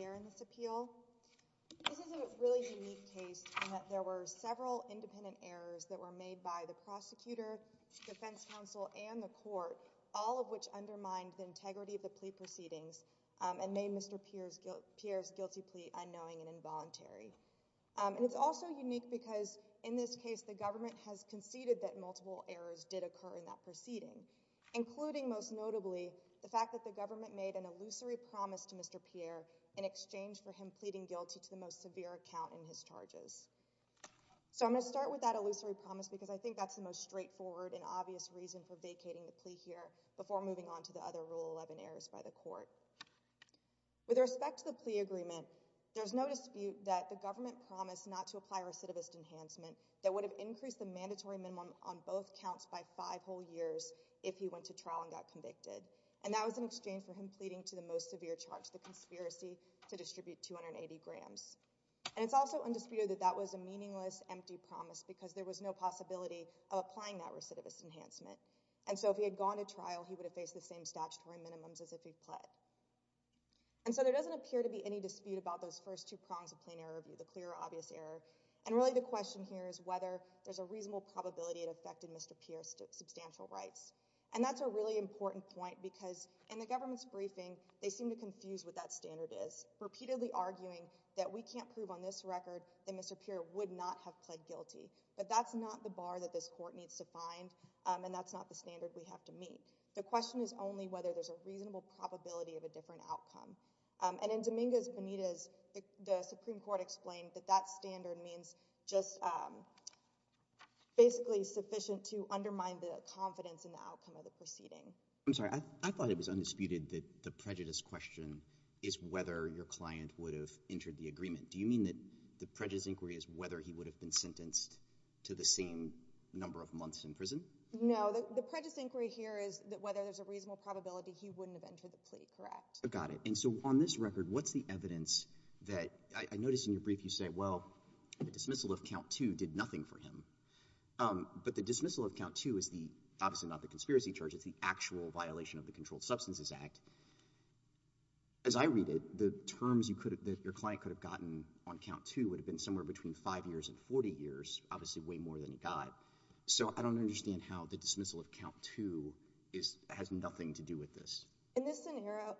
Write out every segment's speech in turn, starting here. and this appeal. This is a really unique case in that there were several independent errors that were made by the prosecutor, defense counsel, and the court, all of which undermined the integrity of the plea proceedings and made Mr. Pierre's guilty plea unknowing and involuntary. And it's also unique because in this case the government has conceded that multiple errors did occur in that proceeding, including most notably the fact that the government made an illusory promise to Mr. Pierre in exchange for him pleading guilty to the most I think that's the most straightforward and obvious reason for vacating the plea here before moving on to the other rule 11 errors by the court. With respect to the plea agreement, there's no dispute that the government promised not to apply recidivist enhancement that would have increased the mandatory minimum on both counts by five whole years if he went to trial and got convicted. And that was in exchange for him pleading to the most severe charge, the conspiracy to distribute 280 grams. And it's also undisputed that that was a meaningless empty promise because there was no possibility of applying that recidivist enhancement. And so if he had gone to trial he would have faced the same statutory minimums as if he pled. And so there doesn't appear to be any dispute about those first two prongs of plain error review, the clear obvious error, and really the question here is whether there's a reasonable probability it affected Mr. Pierre's substantial rights. And that's a really important point because in the government's briefing they seem to confuse what that standard is, repeatedly arguing that we can't prove on this record that Mr. Pierre would not have pled guilty. But that's not the bar that this court needs to find, and that's not the standard we have to meet. The question is only whether there's a reasonable probability of a different outcome. And in Dominguez Benitez, the Supreme Court explained that that standard means just basically sufficient to undermine the confidence in the outcome of the proceeding. I'm sorry, I thought it was undisputed that the prejudice question is whether your client would have entered the agreement. Do you mean that the prejudice inquiry is whether he would have been sentenced to the same number of months in prison? No, the prejudice inquiry here is that whether there's a reasonable probability he wouldn't have entered the plea, correct? Got it. And so on this record, what's the evidence that—I noticed in your brief you say, well, the dismissal of count two did nothing for him. But the dismissal of count two is the—obviously not the conspiracy charge, it's the actual violation of the Controlled Substances Act. As I read it, the terms that your client could have gotten on count two would have been somewhere between five years and 40 years, obviously way more than he got. So I don't understand how the dismissal of count two has nothing to do with this. In this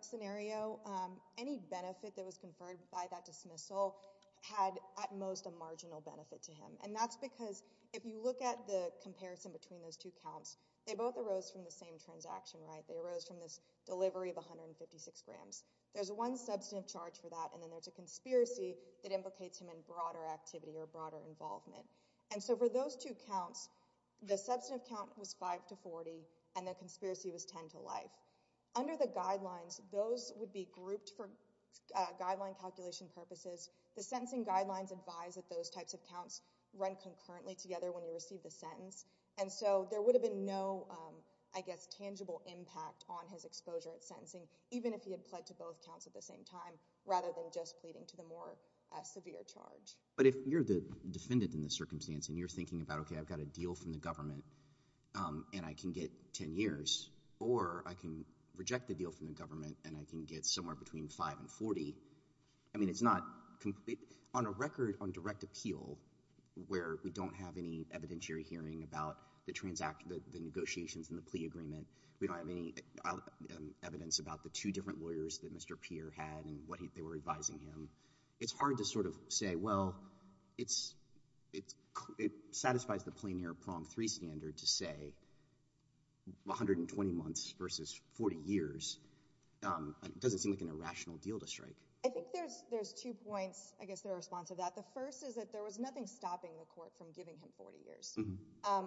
scenario, any benefit that was conferred by that dismissal had at most a marginal benefit to him. And that's because if you look at the comparison between those two counts, they both arose from the same transaction, right? They arose from this delivery of 156 grams. There's one substantive charge for that, and then there's a conspiracy that implicates him in broader activity or broader involvement. And so for those two counts, the substantive count was 5 to 40, and the conspiracy was 10 to life. Under the guidelines, those would be grouped for guideline calculation purposes. The sentencing guidelines advise that those types of counts run concurrently together when you receive the sentence. And so there would have been no, I guess, tangible impact on his exposure at sentencing, even if he had pled to both counts at the same time, rather than just pleading to the more severe charge. But if you're the defendant in this circumstance and you're thinking about, okay, I've got a deal from the government and I can get 10 years, or I can reject the deal from the government and I can get somewhere between 5 and 40, I mean, it's not complete. On a record on direct appeal, where we don't have any evidentiary hearing about the negotiations and the plea agreement, we don't have any evidence about the two different lawyers that Mr. Peer had and what they were advising him, it's hard to sort of say, well, it satisfies the plein air prong three standard to say 120 months versus 40 years. It doesn't seem like an irrational deal to strike. I think there's two points, I guess, in response to that. The first is that there was nothing stopping the court from giving him 40 years.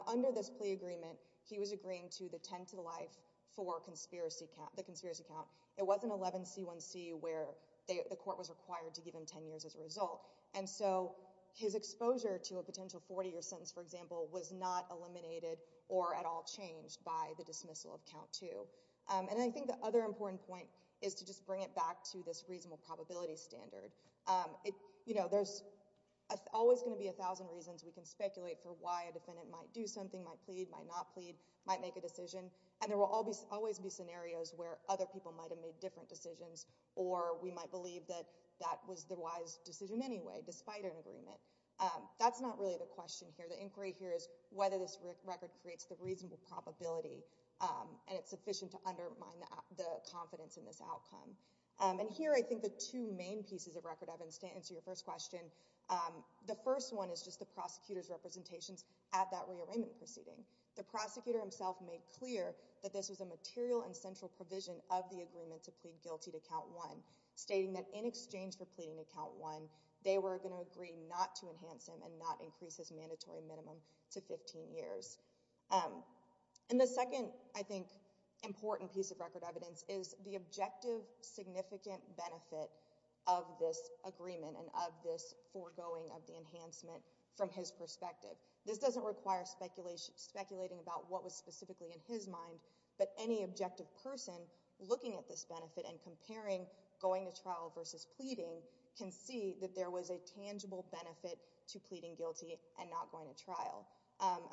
Under this plea agreement, he was agreeing to the 10 to the life for the conspiracy count. It wasn't 11C1C where the court was required to give him 10 years as a result. And so his exposure to a potential 40-year sentence, for example, was not eliminated or at all changed by the dismissal of count two. And I think the other important point is to just bring it back to this reasonable probability standard. There's always going to be a thousand reasons we can speculate for why a defendant might do something, might plead, might not plead, might make a decision, and there will always be scenarios where other people might have made different decisions or we might believe that that was the wise decision anyway, despite an agreement. That's not really the question here. The inquiry here is whether this record creates the reasonable probability and it's sufficient to undermine the confidence in this outcome. And here, I think the two main pieces of record, Evans, to answer your first question, the first one is just the prosecutor's representations at that rearrangement proceeding. The prosecutor himself made clear that this was a material and central provision of the agreement to plead guilty to count one, stating that in exchange for pleading to count one, they were going to agree not to enhance him and not increase his mandatory minimum to 15 years. And the second, I think, important piece of record evidence is the objective significant benefit of this agreement and of this foregoing of the enhancement from his perspective. This doesn't require speculating about what was specifically in his mind, but any objective person looking at this benefit and comparing going to trial versus pleading can see that there was a tangible benefit to pleading guilty and not going to trial.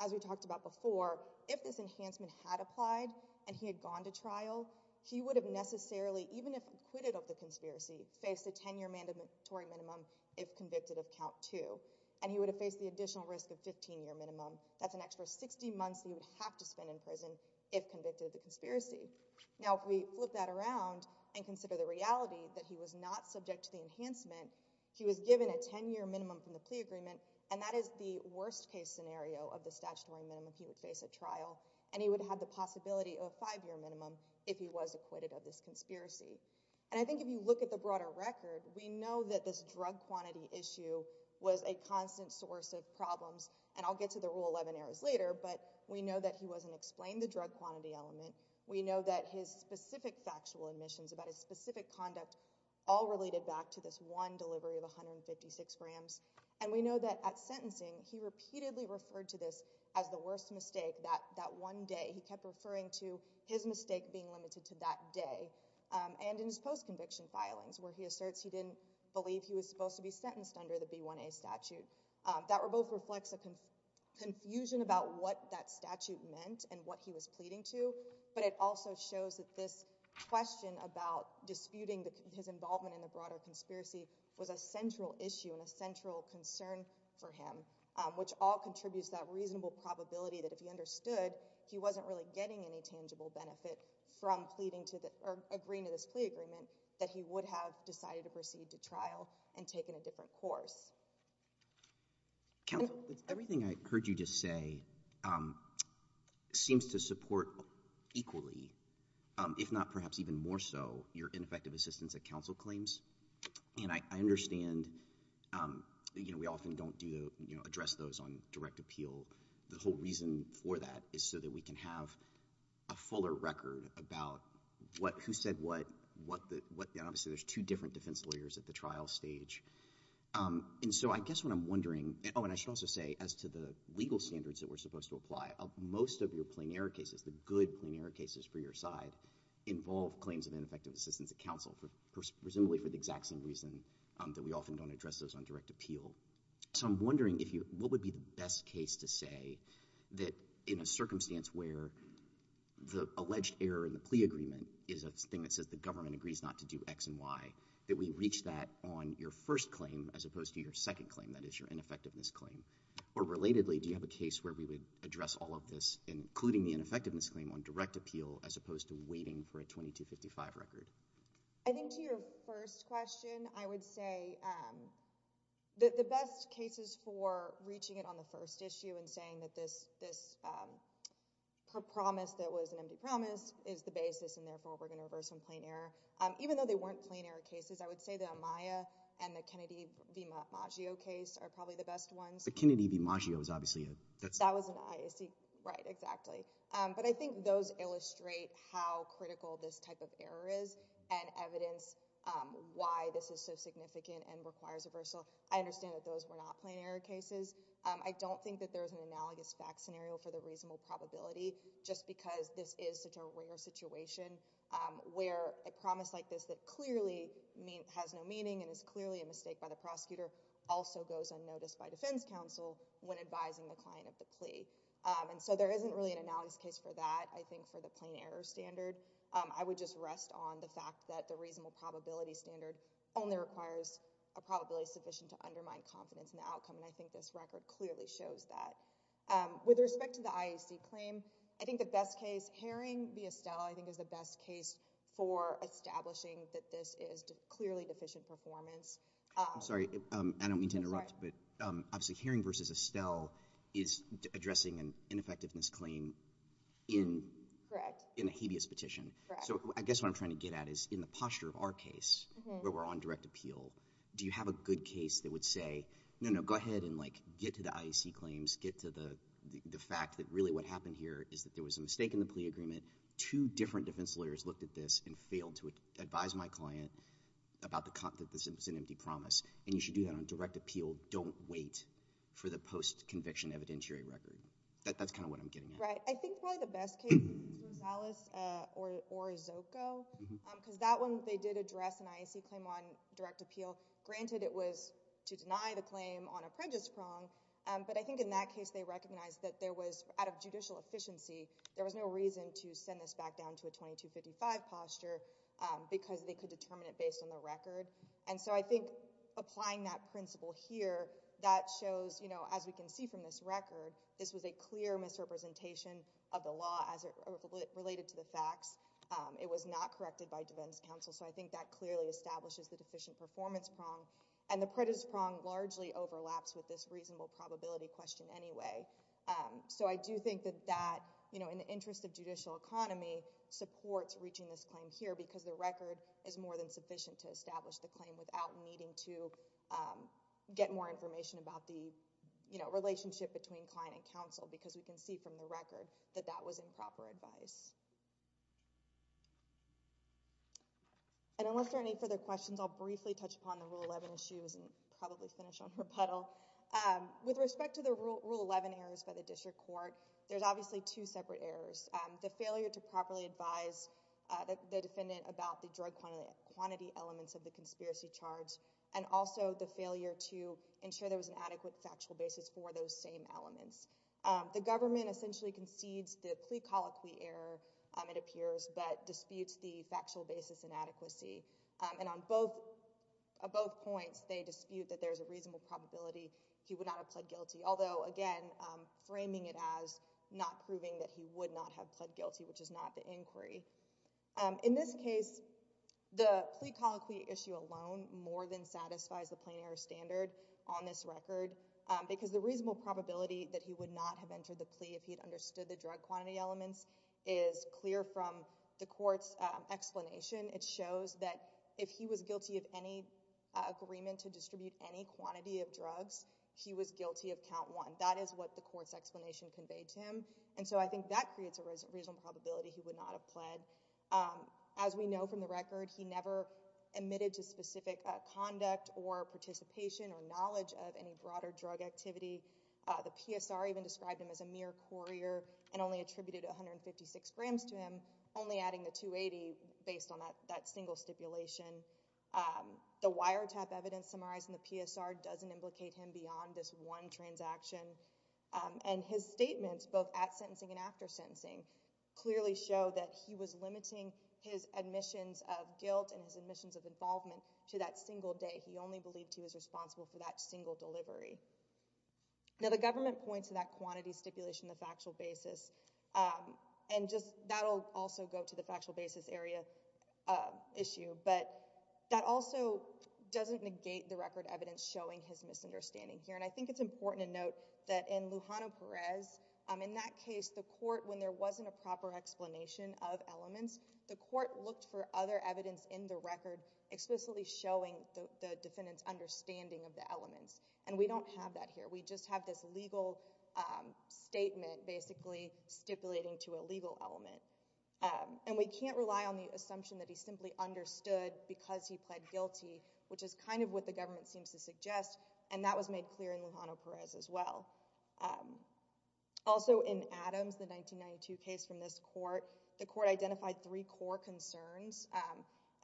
As we talked about before, if this enhancement had applied and he had gone to trial, he would have necessarily, even if acquitted of the conspiracy, faced a 10-year mandatory minimum if convicted of count two, and he would have faced the additional risk of 15-year minimum. That's an extra 60 months he would have to spend in prison if convicted of consider the reality that he was not subject to the enhancement. He was given a 10-year minimum from the plea agreement, and that is the worst-case scenario of the statutory minimum he would face at trial, and he would have the possibility of a five-year minimum if he was acquitted of this conspiracy. And I think if you look at the broader record, we know that this drug quantity issue was a constant source of problems, and I'll get to the Rule 11 errors later, but we know that he wasn't explained the drug quantity element. We know that his specific factual admissions about his specific conduct all related back to this one delivery of 156 grams, and we know that at sentencing, he repeatedly referred to this as the worst mistake that one day. He kept referring to his mistake being limited to that day, and in his post-conviction filings where he asserts he didn't believe he was supposed to be sentenced under the B1A statute. That both reflects a confusion about what that statute meant and what he was pleading to, but it also shows that this question about disputing his involvement in the broader conspiracy was a central issue and a central concern for him, which all contributes that reasonable probability that if he understood he wasn't really getting any tangible benefit from pleading to the or agreeing to this plea agreement, that he would have decided to proceed to trial and taken a different course. Counsel, everything I heard you just say seems to support equally, if not perhaps even more so, your ineffective assistance at counsel claims, and I understand, you know, we often don't do, you know, address those on direct appeal. The whole reason for that is so that we can have a fuller record about what, who said what, what the, what, and obviously there's two different lawyers at the trial stage, and so I guess what I'm wondering, oh and I should also say as to the legal standards that we're supposed to apply, most of your plain error cases, the good plain error cases for your side, involve claims of ineffective assistance at counsel, presumably for the exact same reason that we often don't address those on direct appeal. So I'm wondering if you, what would be the best case to say that in a circumstance where the alleged error in the plea agreement is a thing that says the government agrees not to do x and y, that we reach that on your first claim as opposed to your second claim, that is your ineffectiveness claim, or relatedly, do you have a case where we would address all of this, including the ineffectiveness claim, on direct appeal as opposed to waiting for a 2255 record? I think to your first question, I would say that the best cases for reaching it on the first issue and saying that this, this promise that was an empty promise, is the basis and therefore we're going to reverse some plain error. Even though they weren't plain error cases, I would say the Amaya and the Kennedy v. Maggio case are probably the best ones. The Kennedy v. Maggio is obviously a... That was an IAC, right, exactly. But I think those illustrate how critical this type of error is and evidence why this is so significant and requires reversal. I understand that those were not plain error cases. I don't think that there is such a rare situation where a promise like this that clearly has no meaning and is clearly a mistake by the prosecutor also goes unnoticed by defense counsel when advising the client of the plea. And so there isn't really an analogous case for that, I think, for the plain error standard. I would just rest on the fact that the reasonable probability standard only requires a probability sufficient to undermine confidence in the outcome, and I think this record clearly shows that. With respect to the IAC claim, I think the best case, Haring v. Estelle, I think is the best case for establishing that this is clearly deficient performance. I'm sorry, I don't mean to interrupt, but obviously Haring v. Estelle is addressing an ineffectiveness claim in a habeas petition. So I guess what I'm trying to get at is in the posture of our case where we're on direct appeal, do you have a good case that would say, no, no, go ahead and get to the IAC claims, get to the fact that really what happened here is that there was a mistake in the plea agreement, two different defense lawyers looked at this and failed to advise my client about the content that was an empty promise, and you should do that on direct appeal. Don't wait for the post-conviction evidentiary record. That's kind of what I'm getting at. Right. I think probably the best case is Rosales or Zoco, because that one, they did address an IAC claim on direct appeal. Granted, it was to deny the claim on a prejudice prong, but I think in that case, they recognized that there was, out of judicial efficiency, there was no reason to send this back down to a 2255 posture because they could determine it based on the record. And so I think applying that principle here, that shows, you know, as we can see from this record, this was a clear misrepresentation of the law as it related to the facts. It was not corrected by defense counsel. So I think that clearly establishes the deficient performance prong, and the prejudice prong largely overlaps with this reasonable probability question anyway. So I do think that that, you know, in the interest of judicial economy supports reaching this claim here because the record is more than sufficient to establish the claim without needing to get more information about the, you know, relationship between client and counsel because we can see from the record that that was improper advice. And unless there are any further questions, I'll briefly touch upon the Rule 11 issues and probably finish on rebuttal. With respect to the Rule 11 errors by the district court, there's obviously two separate errors. The failure to properly advise the defendant about the drug quantity elements of the conspiracy charge, and also the failure to ensure there was an adequate amount of evidence to support the claim elements. The government essentially concedes the plea colloquy error, it appears, but disputes the factual basis inadequacy. And on both points, they dispute that there's a reasonable probability he would not have pled guilty, although, again, framing it as not proving that he would not have pled guilty, which is not the inquiry. In this case, the plea colloquy issue alone more than satisfies the plain error standard on this record because the reasonable probability that he would not have entered the plea if he'd understood the drug quantity elements is clear from the court's explanation. It shows that if he was guilty of any agreement to distribute any quantity of drugs, he was guilty of count one. That is what the court's explanation conveyed to him, and so I think that creates a reasonable probability he would not have pled. As we know from the record, he never admitted to specific conduct or participation or knowledge of any broader drug activity. The PSR even described him as a mere courier and only attributed 156 grams to him, only adding the 280 based on that single stipulation. The wiretap evidence summarized in the PSR doesn't implicate him beyond this one transaction, and his statements both at sentencing and after sentencing clearly show that he was he only believed he was responsible for that single delivery. Now, the government points to that quantity stipulation, the factual basis, and just that'll also go to the factual basis area issue, but that also doesn't negate the record evidence showing his misunderstanding here, and I think it's important to note that in Lujano Perez, in that case, the court, when there wasn't a proper explanation of elements, the court looked for other evidence in the record explicitly showing the defendant's understanding of the elements, and we don't have that here. We just have this legal statement basically stipulating to a legal element, and we can't rely on the assumption that he simply understood because he pled guilty, which is kind of what the government seems to suggest, and that was made clear in Lujano Perez as well. Also in Adams, the 1992 case from this court, the court identified three core concerns,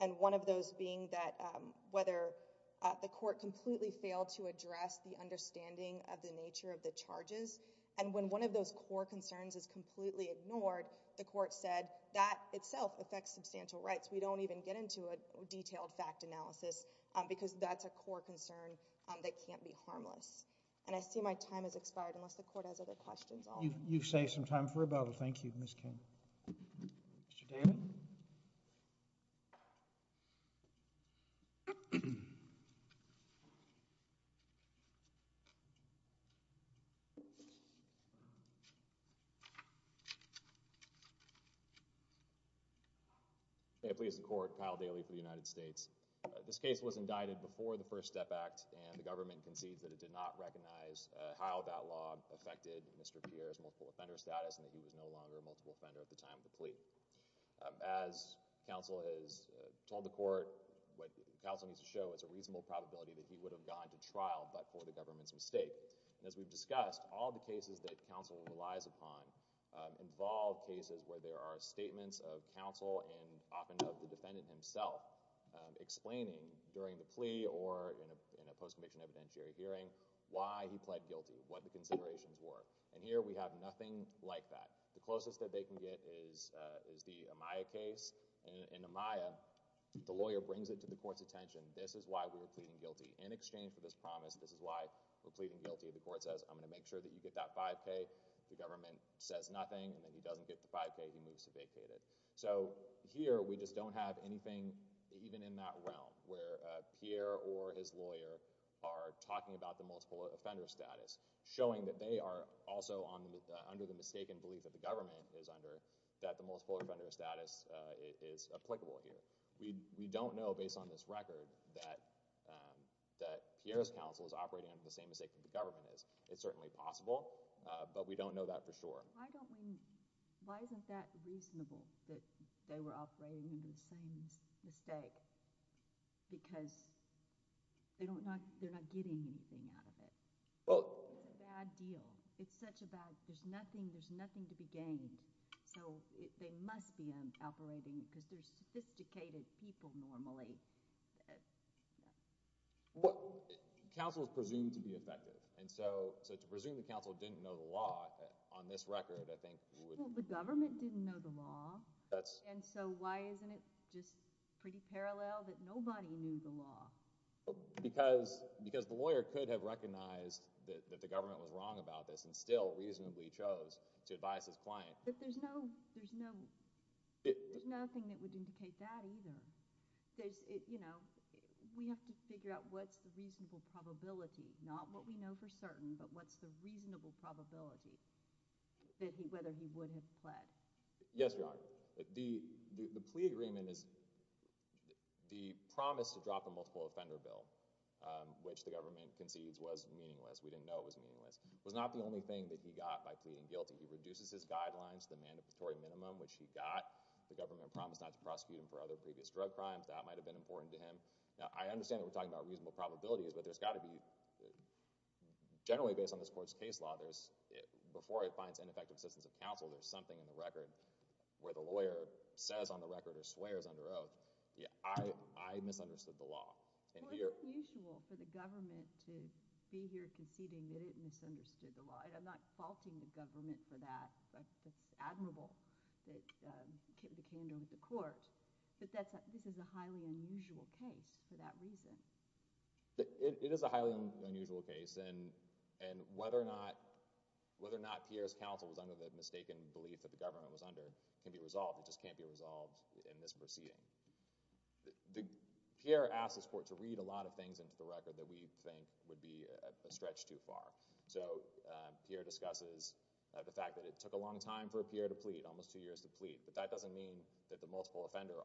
and one of those being that whether the court completely failed to address the understanding of the nature of the charges, and when one of those core concerns is completely ignored, the court said that itself affects substantial rights. We don't even get into a detailed fact analysis because that's a core concern that can't be harmless, and I see my time has expired unless the court has other questions. You've saved some time for rebuttal. Thank you, Ms. King. Mr. Daly? May it please the court, Kyle Daly for the United States. This case was indicted before the First Step Act, and the government concedes that it did not recognize how that law affected Mr. Pierre's multiple offender status and that he was no longer a multiple offender at the time of the plea. As counsel has told the court, what counsel needs to show is a reasonable probability that he would have gone to trial but for the government's mistake, and as we've discussed, all the cases that counsel relies upon involve cases where there are statements of counsel and often of the defendant himself explaining during the plea or in a post-conviction evidentiary hearing why he pled guilty, what the considerations were, and here we have nothing like that. The closest that they can get is the Amaya case. In Amaya, the lawyer brings it to the court's attention. This is why we were pleading guilty. In exchange for this promise, this is why we're pleading guilty. The court says, I'm going to make sure that you get that 5K. The government says nothing, and then he doesn't get the 5K. He moves to vacate it. So here, we just don't have anything even in that realm where Pierre or his lawyer are talking about the multiple offender status, showing that they are also under the mistaken belief that the government is under, that the multiple offender status is applicable here. We don't know, based on this record, that Pierre's counsel is operating under the same mistake that the government is. It's certainly possible, but we don't know that for sure. Why don't we—why isn't that reasonable, that they were operating under the same mistake, because they're not getting anything out of it? It's a bad deal. It's such a bad—there's nothing to be gained, so they must be operating because they're sophisticated people, normally. Counsel is presumed to be effective, and so to presume the counsel didn't know the law, on this record, I think would— Well, the government didn't know the law, and so why isn't it just pretty parallel that nobody knew the law? Because the lawyer could have recognized that the government was wrong about this and still reasonably chose to advise his client. But there's no—there's nothing that would indicate that either. There's—you know, we have to figure out what's the reasonable probability, not what we know for certain, but what's the reasonable probability that he—whether he would have pled? Yes, Your Honor. The plea agreement is—the promise to drop a multiple offender bill, which the government concedes was meaningless, we didn't know it was meaningless, was not the only thing that he got by pleading guilty. He reduces his guidelines to the mandatory minimum, which he got. The government promised not to prosecute him for other previous drug crimes. That might have been important to him. Now, I understand that we're talking about reasonable probabilities, but there's got to be—generally based on this court's case law, there's—before it finds ineffective assistance of counsel, there's something in the record where the lawyer says on the record or swears under oath, yeah, I misunderstood the law. And here— Well, it's unusual for the government to be here conceding that it misunderstood the law, and I'm not faulting the government for that, but it's admirable that it became known to the court. But that's—this is a highly unusual case for that reason. It is a highly unusual case, and whether or not Pierre's counsel was under the mistaken belief that the government was under can be resolved. It just can't be resolved in this proceeding. Pierre asks this court to read a lot of things into the record that we think would be a stretch too far. So, Pierre discusses the fact that it took a long time for Pierre to plead, almost two years to plead, but that doesn't mean that the multiple offender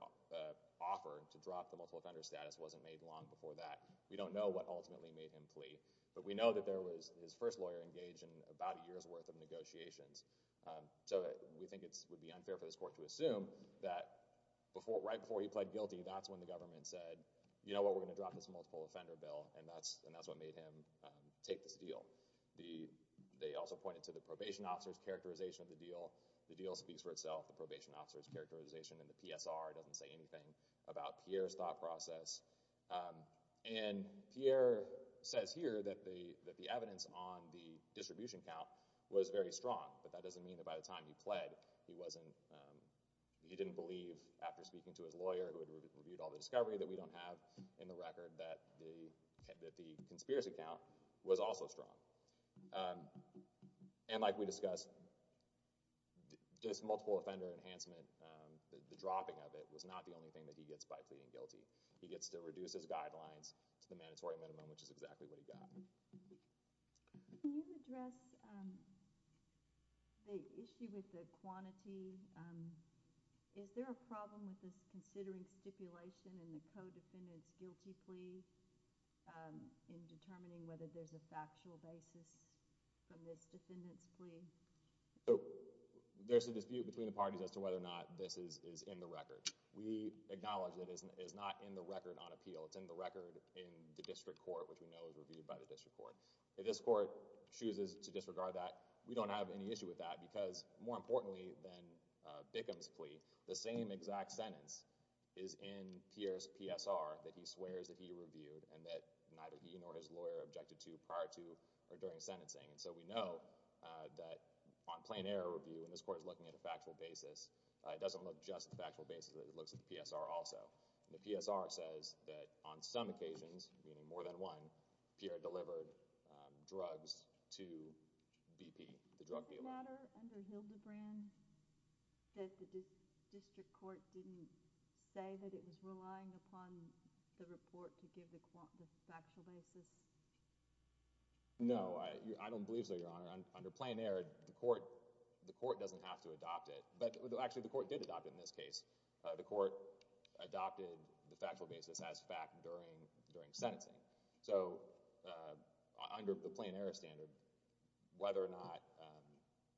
offer to drop the multiple offender status wasn't made long before that. We don't know what ultimately made him plea, but we know that there was his first lawyer engaged in about a year's worth of negotiations. So, we think it would be unfair for this court to assume that before—right before he pled guilty, that's when the government said, you know what, we're going to drop this multiple offender bill, and that's what made him take this deal. They also pointed to the probation officer's characterization of the deal. The deal speaks for itself. The probation officer's PSR doesn't say anything about Pierre's thought process. And Pierre says here that the evidence on the distribution count was very strong, but that doesn't mean that by the time he pled, he wasn't—he didn't believe after speaking to his lawyer who had reviewed all the discovery that we don't have in the record that the conspiracy count was also strong. And like we discussed, this multiple offender enhancement, the dropping of it was not the only thing that he gets by pleading guilty. He gets to reduce his guidelines to the mandatory minimum, which is exactly what he got. Can you address the issue with the quantity? Is there a problem with this considering stipulation in the co-defendant's guilty plea in determining whether there's a factual basis from this defendant's plea? There's a dispute between the parties as to whether or not this is in the record. We acknowledge that it is not in the record on appeal. It's in the record in the district court, which we know is reviewed by the district court. If this court chooses to disregard that, we don't have any issue with that because, more importantly than Bickham's plea, the same exact sentence is in Pierre's PSR that he swears that he reviewed and that neither he nor his lawyer objected to prior to or during sentencing. And so we know that on plain error review, when this court is looking at a factual basis, it doesn't look just at the factual basis, but it looks at the PSR also. The PSR says that on some occasions, meaning more than one, Pierre delivered drugs to BP, the drug dealer. Does it matter under Hildebrand that the district court didn't say that it was relying upon the report to give the factual basis? No, I don't believe so, Your Honor. Under plain error, the court doesn't have to adopt it. But actually, the court did adopt it in this case. The court adopted the factual basis as fact during sentencing. So under the plain error standard, whether or not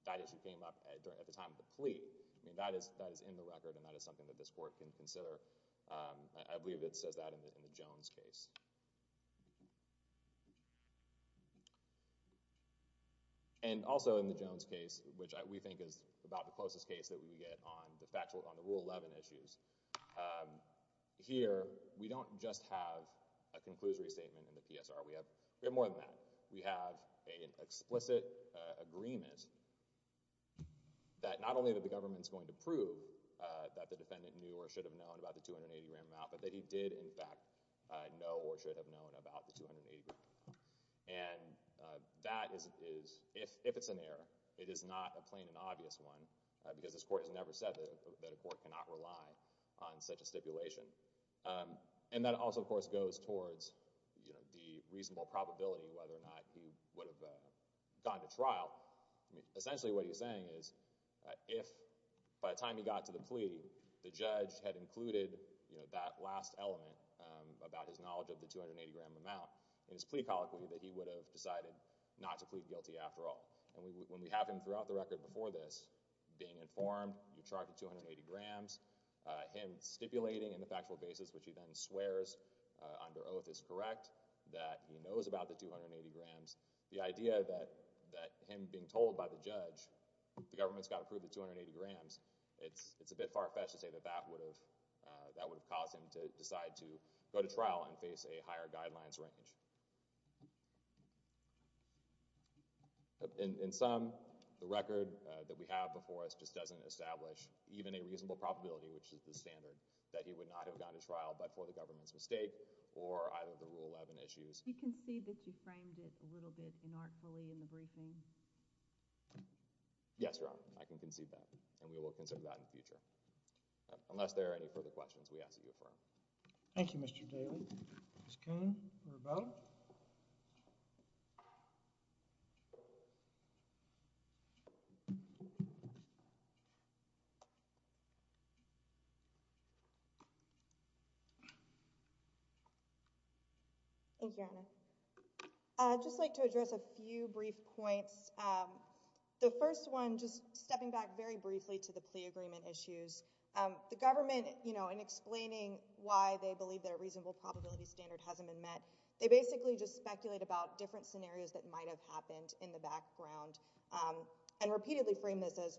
that issue came up at the time of the plea, that is in the record and that is something that this court can consider. I believe it says that in the Jones case. And also in the Jones case, which we think is about the closest case that we get on the rule 11 issues, here we don't just have a conclusory statement in the PSR. We have more than that. We have an explicit agreement that not only that the government's going to prove that the defendant knew or should have known about the 280-gram amount, but that he did in fact know or should have known about the 280-gram amount. And that is, if it's an error, it is not a plain and obvious one because this court has never said that a court cannot rely on such a stipulation. And that also, of course, goes towards, you know, the reasonable probability whether or not he would have gone to trial. I mean, essentially what he's saying is, if by the time he got to the plea, the judge had included, you know, that last element about his knowledge of the 280-gram amount in his plea colloquy, that he would have decided not to plead guilty after all. And when we have him throughout the record before this being informed, you chart the 280 grams, him stipulating in the factual basis, which he then swears under oath is correct, that he knows about the 280 grams. The idea that him being told by the judge the government's got to prove the 280 grams, it's a bit far-fetched to say that that would have caused him to decide to go to trial and face a higher guidelines range. In sum, the record that we have before us just doesn't establish even a reasonable probability, which is the standard, that he would not have gone to trial but for the government's mistake or either of the Rule 11 issues. You concede that you framed it a little bit inartfully in the briefing? Yes, Your Honor, I can concede that, and we will consider that in the future. Unless there are any further questions, we ask that you affirm. Thank you, Mr. Daly. Ms. Coon, for a vote. Thank you, Your Honor. I'd just like to address a few brief points. The first one, just stepping back very briefly to the plea agreement issues, the government, you know, in explaining why they believe that a reasonable probability standard hasn't been met, they basically just speculate about different scenarios that might have happened in the background and repeatedly frame this as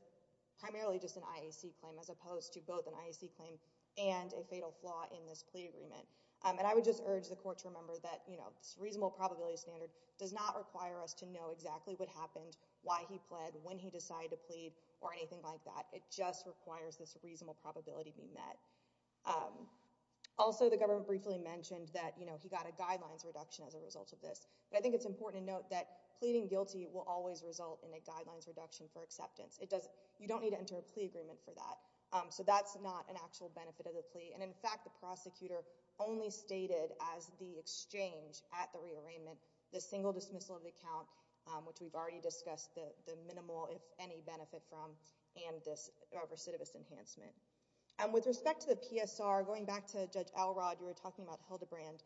primarily just an IAC claim as opposed to both an IAC claim and a fatal flaw in this plea agreement. And I would just urge the Court to remember that, you know, this reasonable probability standard does not require us to know exactly what happened, why he pled, when he decided to plead, or anything like that. It just requires this reasonable probability be met. Also, the government briefly mentioned that, you know, he got a guidelines reduction as a result of this. But I think it's important to note that pleading guilty will always result in a guidelines reduction for acceptance. You don't need to enter a plea agreement for that. So that's not an actual benefit of the plea. And in fact, the prosecutor only stated as the exchange at the rearrangement, the single dismissal of the account, which we've already discussed, the minimal, if any, benefit from, and this recidivist enhancement. With respect to the PSR, going back to Judge Elrod, you were talking about Hildebrand,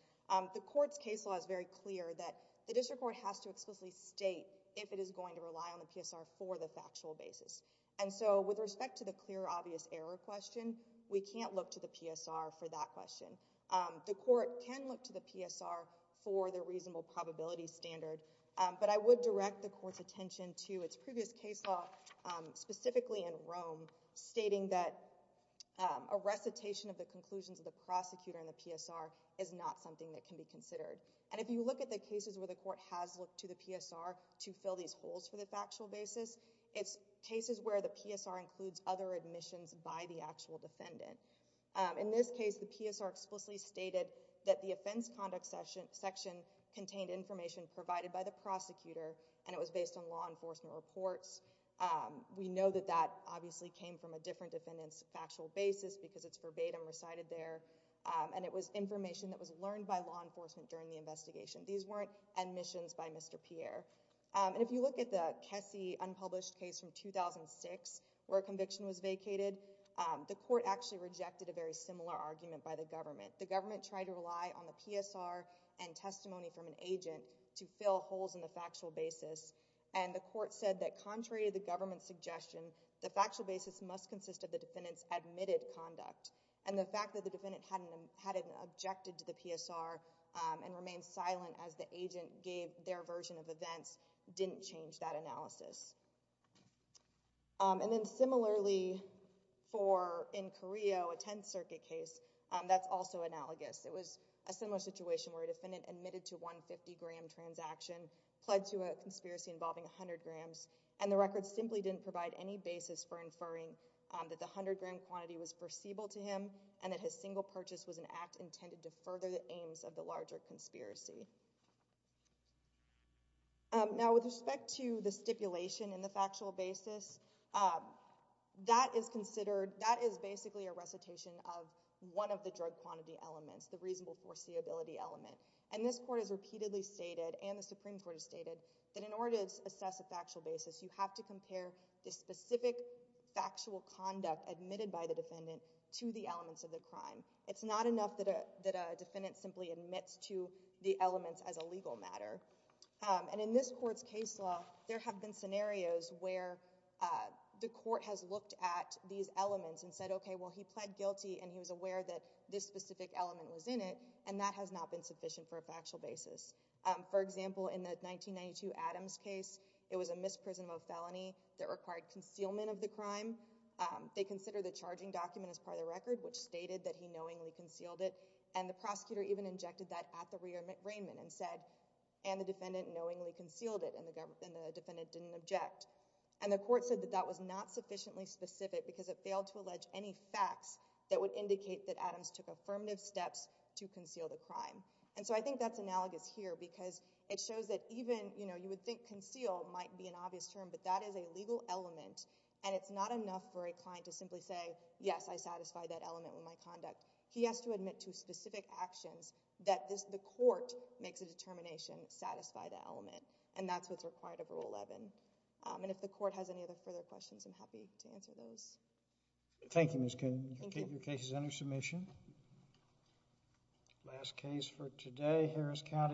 the Court's case law is very clear that the district court has to explicitly state if it is going to rely on the PSR for the factual basis. And so with respect to the clear, obvious error question, we can't look to the PSR for that question. The Court can look to the PSR for the reasonable probability standard, but I would direct the Court's attention to its previous case law, specifically in Rome, stating that a recitation of the conclusions of the prosecutor in the PSR is not something that can be considered. And if you look at the cases where the Court has looked to the PSR to fill these holes for the factual basis, it's cases where the PSR includes other admissions by the actual defendant. In this case, the PSR explicitly stated that the offense conduct section contained information provided by the prosecutor, and it was based on law enforcement reports. We know that that obviously came from a different defendant's factual basis because it's verbatim recited there. And it was information that was learned by law enforcement during the investigation. These weren't admissions by Mr. Pierre. And if you look at the Kessy unpublished case from 2006, where a conviction was vacated, the Court actually rejected a very similar argument by the government. The government tried to rely on the PSR and testimony from an agent to fill holes in the factual basis, and the Court said that contrary to the government's suggestion, the factual basis must consist of the defendant's admitted conduct. And the fact that the defendant hadn't objected to the PSR and remained silent as the agent gave their version of events didn't change that analysis. And then similarly, for in Carrillo, a Tenth Circuit case, that's also analogous. It was a similar situation where a defendant admitted to a 150-gram transaction, pled to a conspiracy involving 100 grams, and the record simply didn't provide any basis for him, and that his single purchase was an act intended to further the aims of the larger conspiracy. Now, with respect to the stipulation in the factual basis, that is considered, that is basically a recitation of one of the drug quantity elements, the reasonable foreseeability element. And this Court has repeatedly stated, and the Supreme Court has stated, that in order to assess a factual basis, you have to compare the specific factual conduct admitted by the elements of the crime. It's not enough that a defendant simply admits to the elements as a legal matter. And in this Court's case law, there have been scenarios where the Court has looked at these elements and said, OK, well, he pled guilty, and he was aware that this specific element was in it, and that has not been sufficient for a factual basis. For example, in the 1992 Adams case, it was a misprisonment of felony that required concealment of the crime. They consider the charging document as part of the record, which stated that he knowingly concealed it. And the prosecutor even injected that at the reinman and said, and the defendant knowingly concealed it, and the defendant didn't object. And the Court said that that was not sufficiently specific, because it failed to allege any facts that would indicate that Adams took affirmative steps to conceal the crime. And so I think that's analogous here, because it shows that even, you know, you would think might be an obvious term, but that is a legal element, and it's not enough for a client to simply say, yes, I satisfy that element with my conduct. He has to admit to specific actions that the Court makes a determination to satisfy that element. And that's what's required of Rule 11. And if the Court has any other further questions, I'm happy to answer those. Thank you, Ms. Kuhn. Thank you. Your case is under submission. Last case for today, Harris County.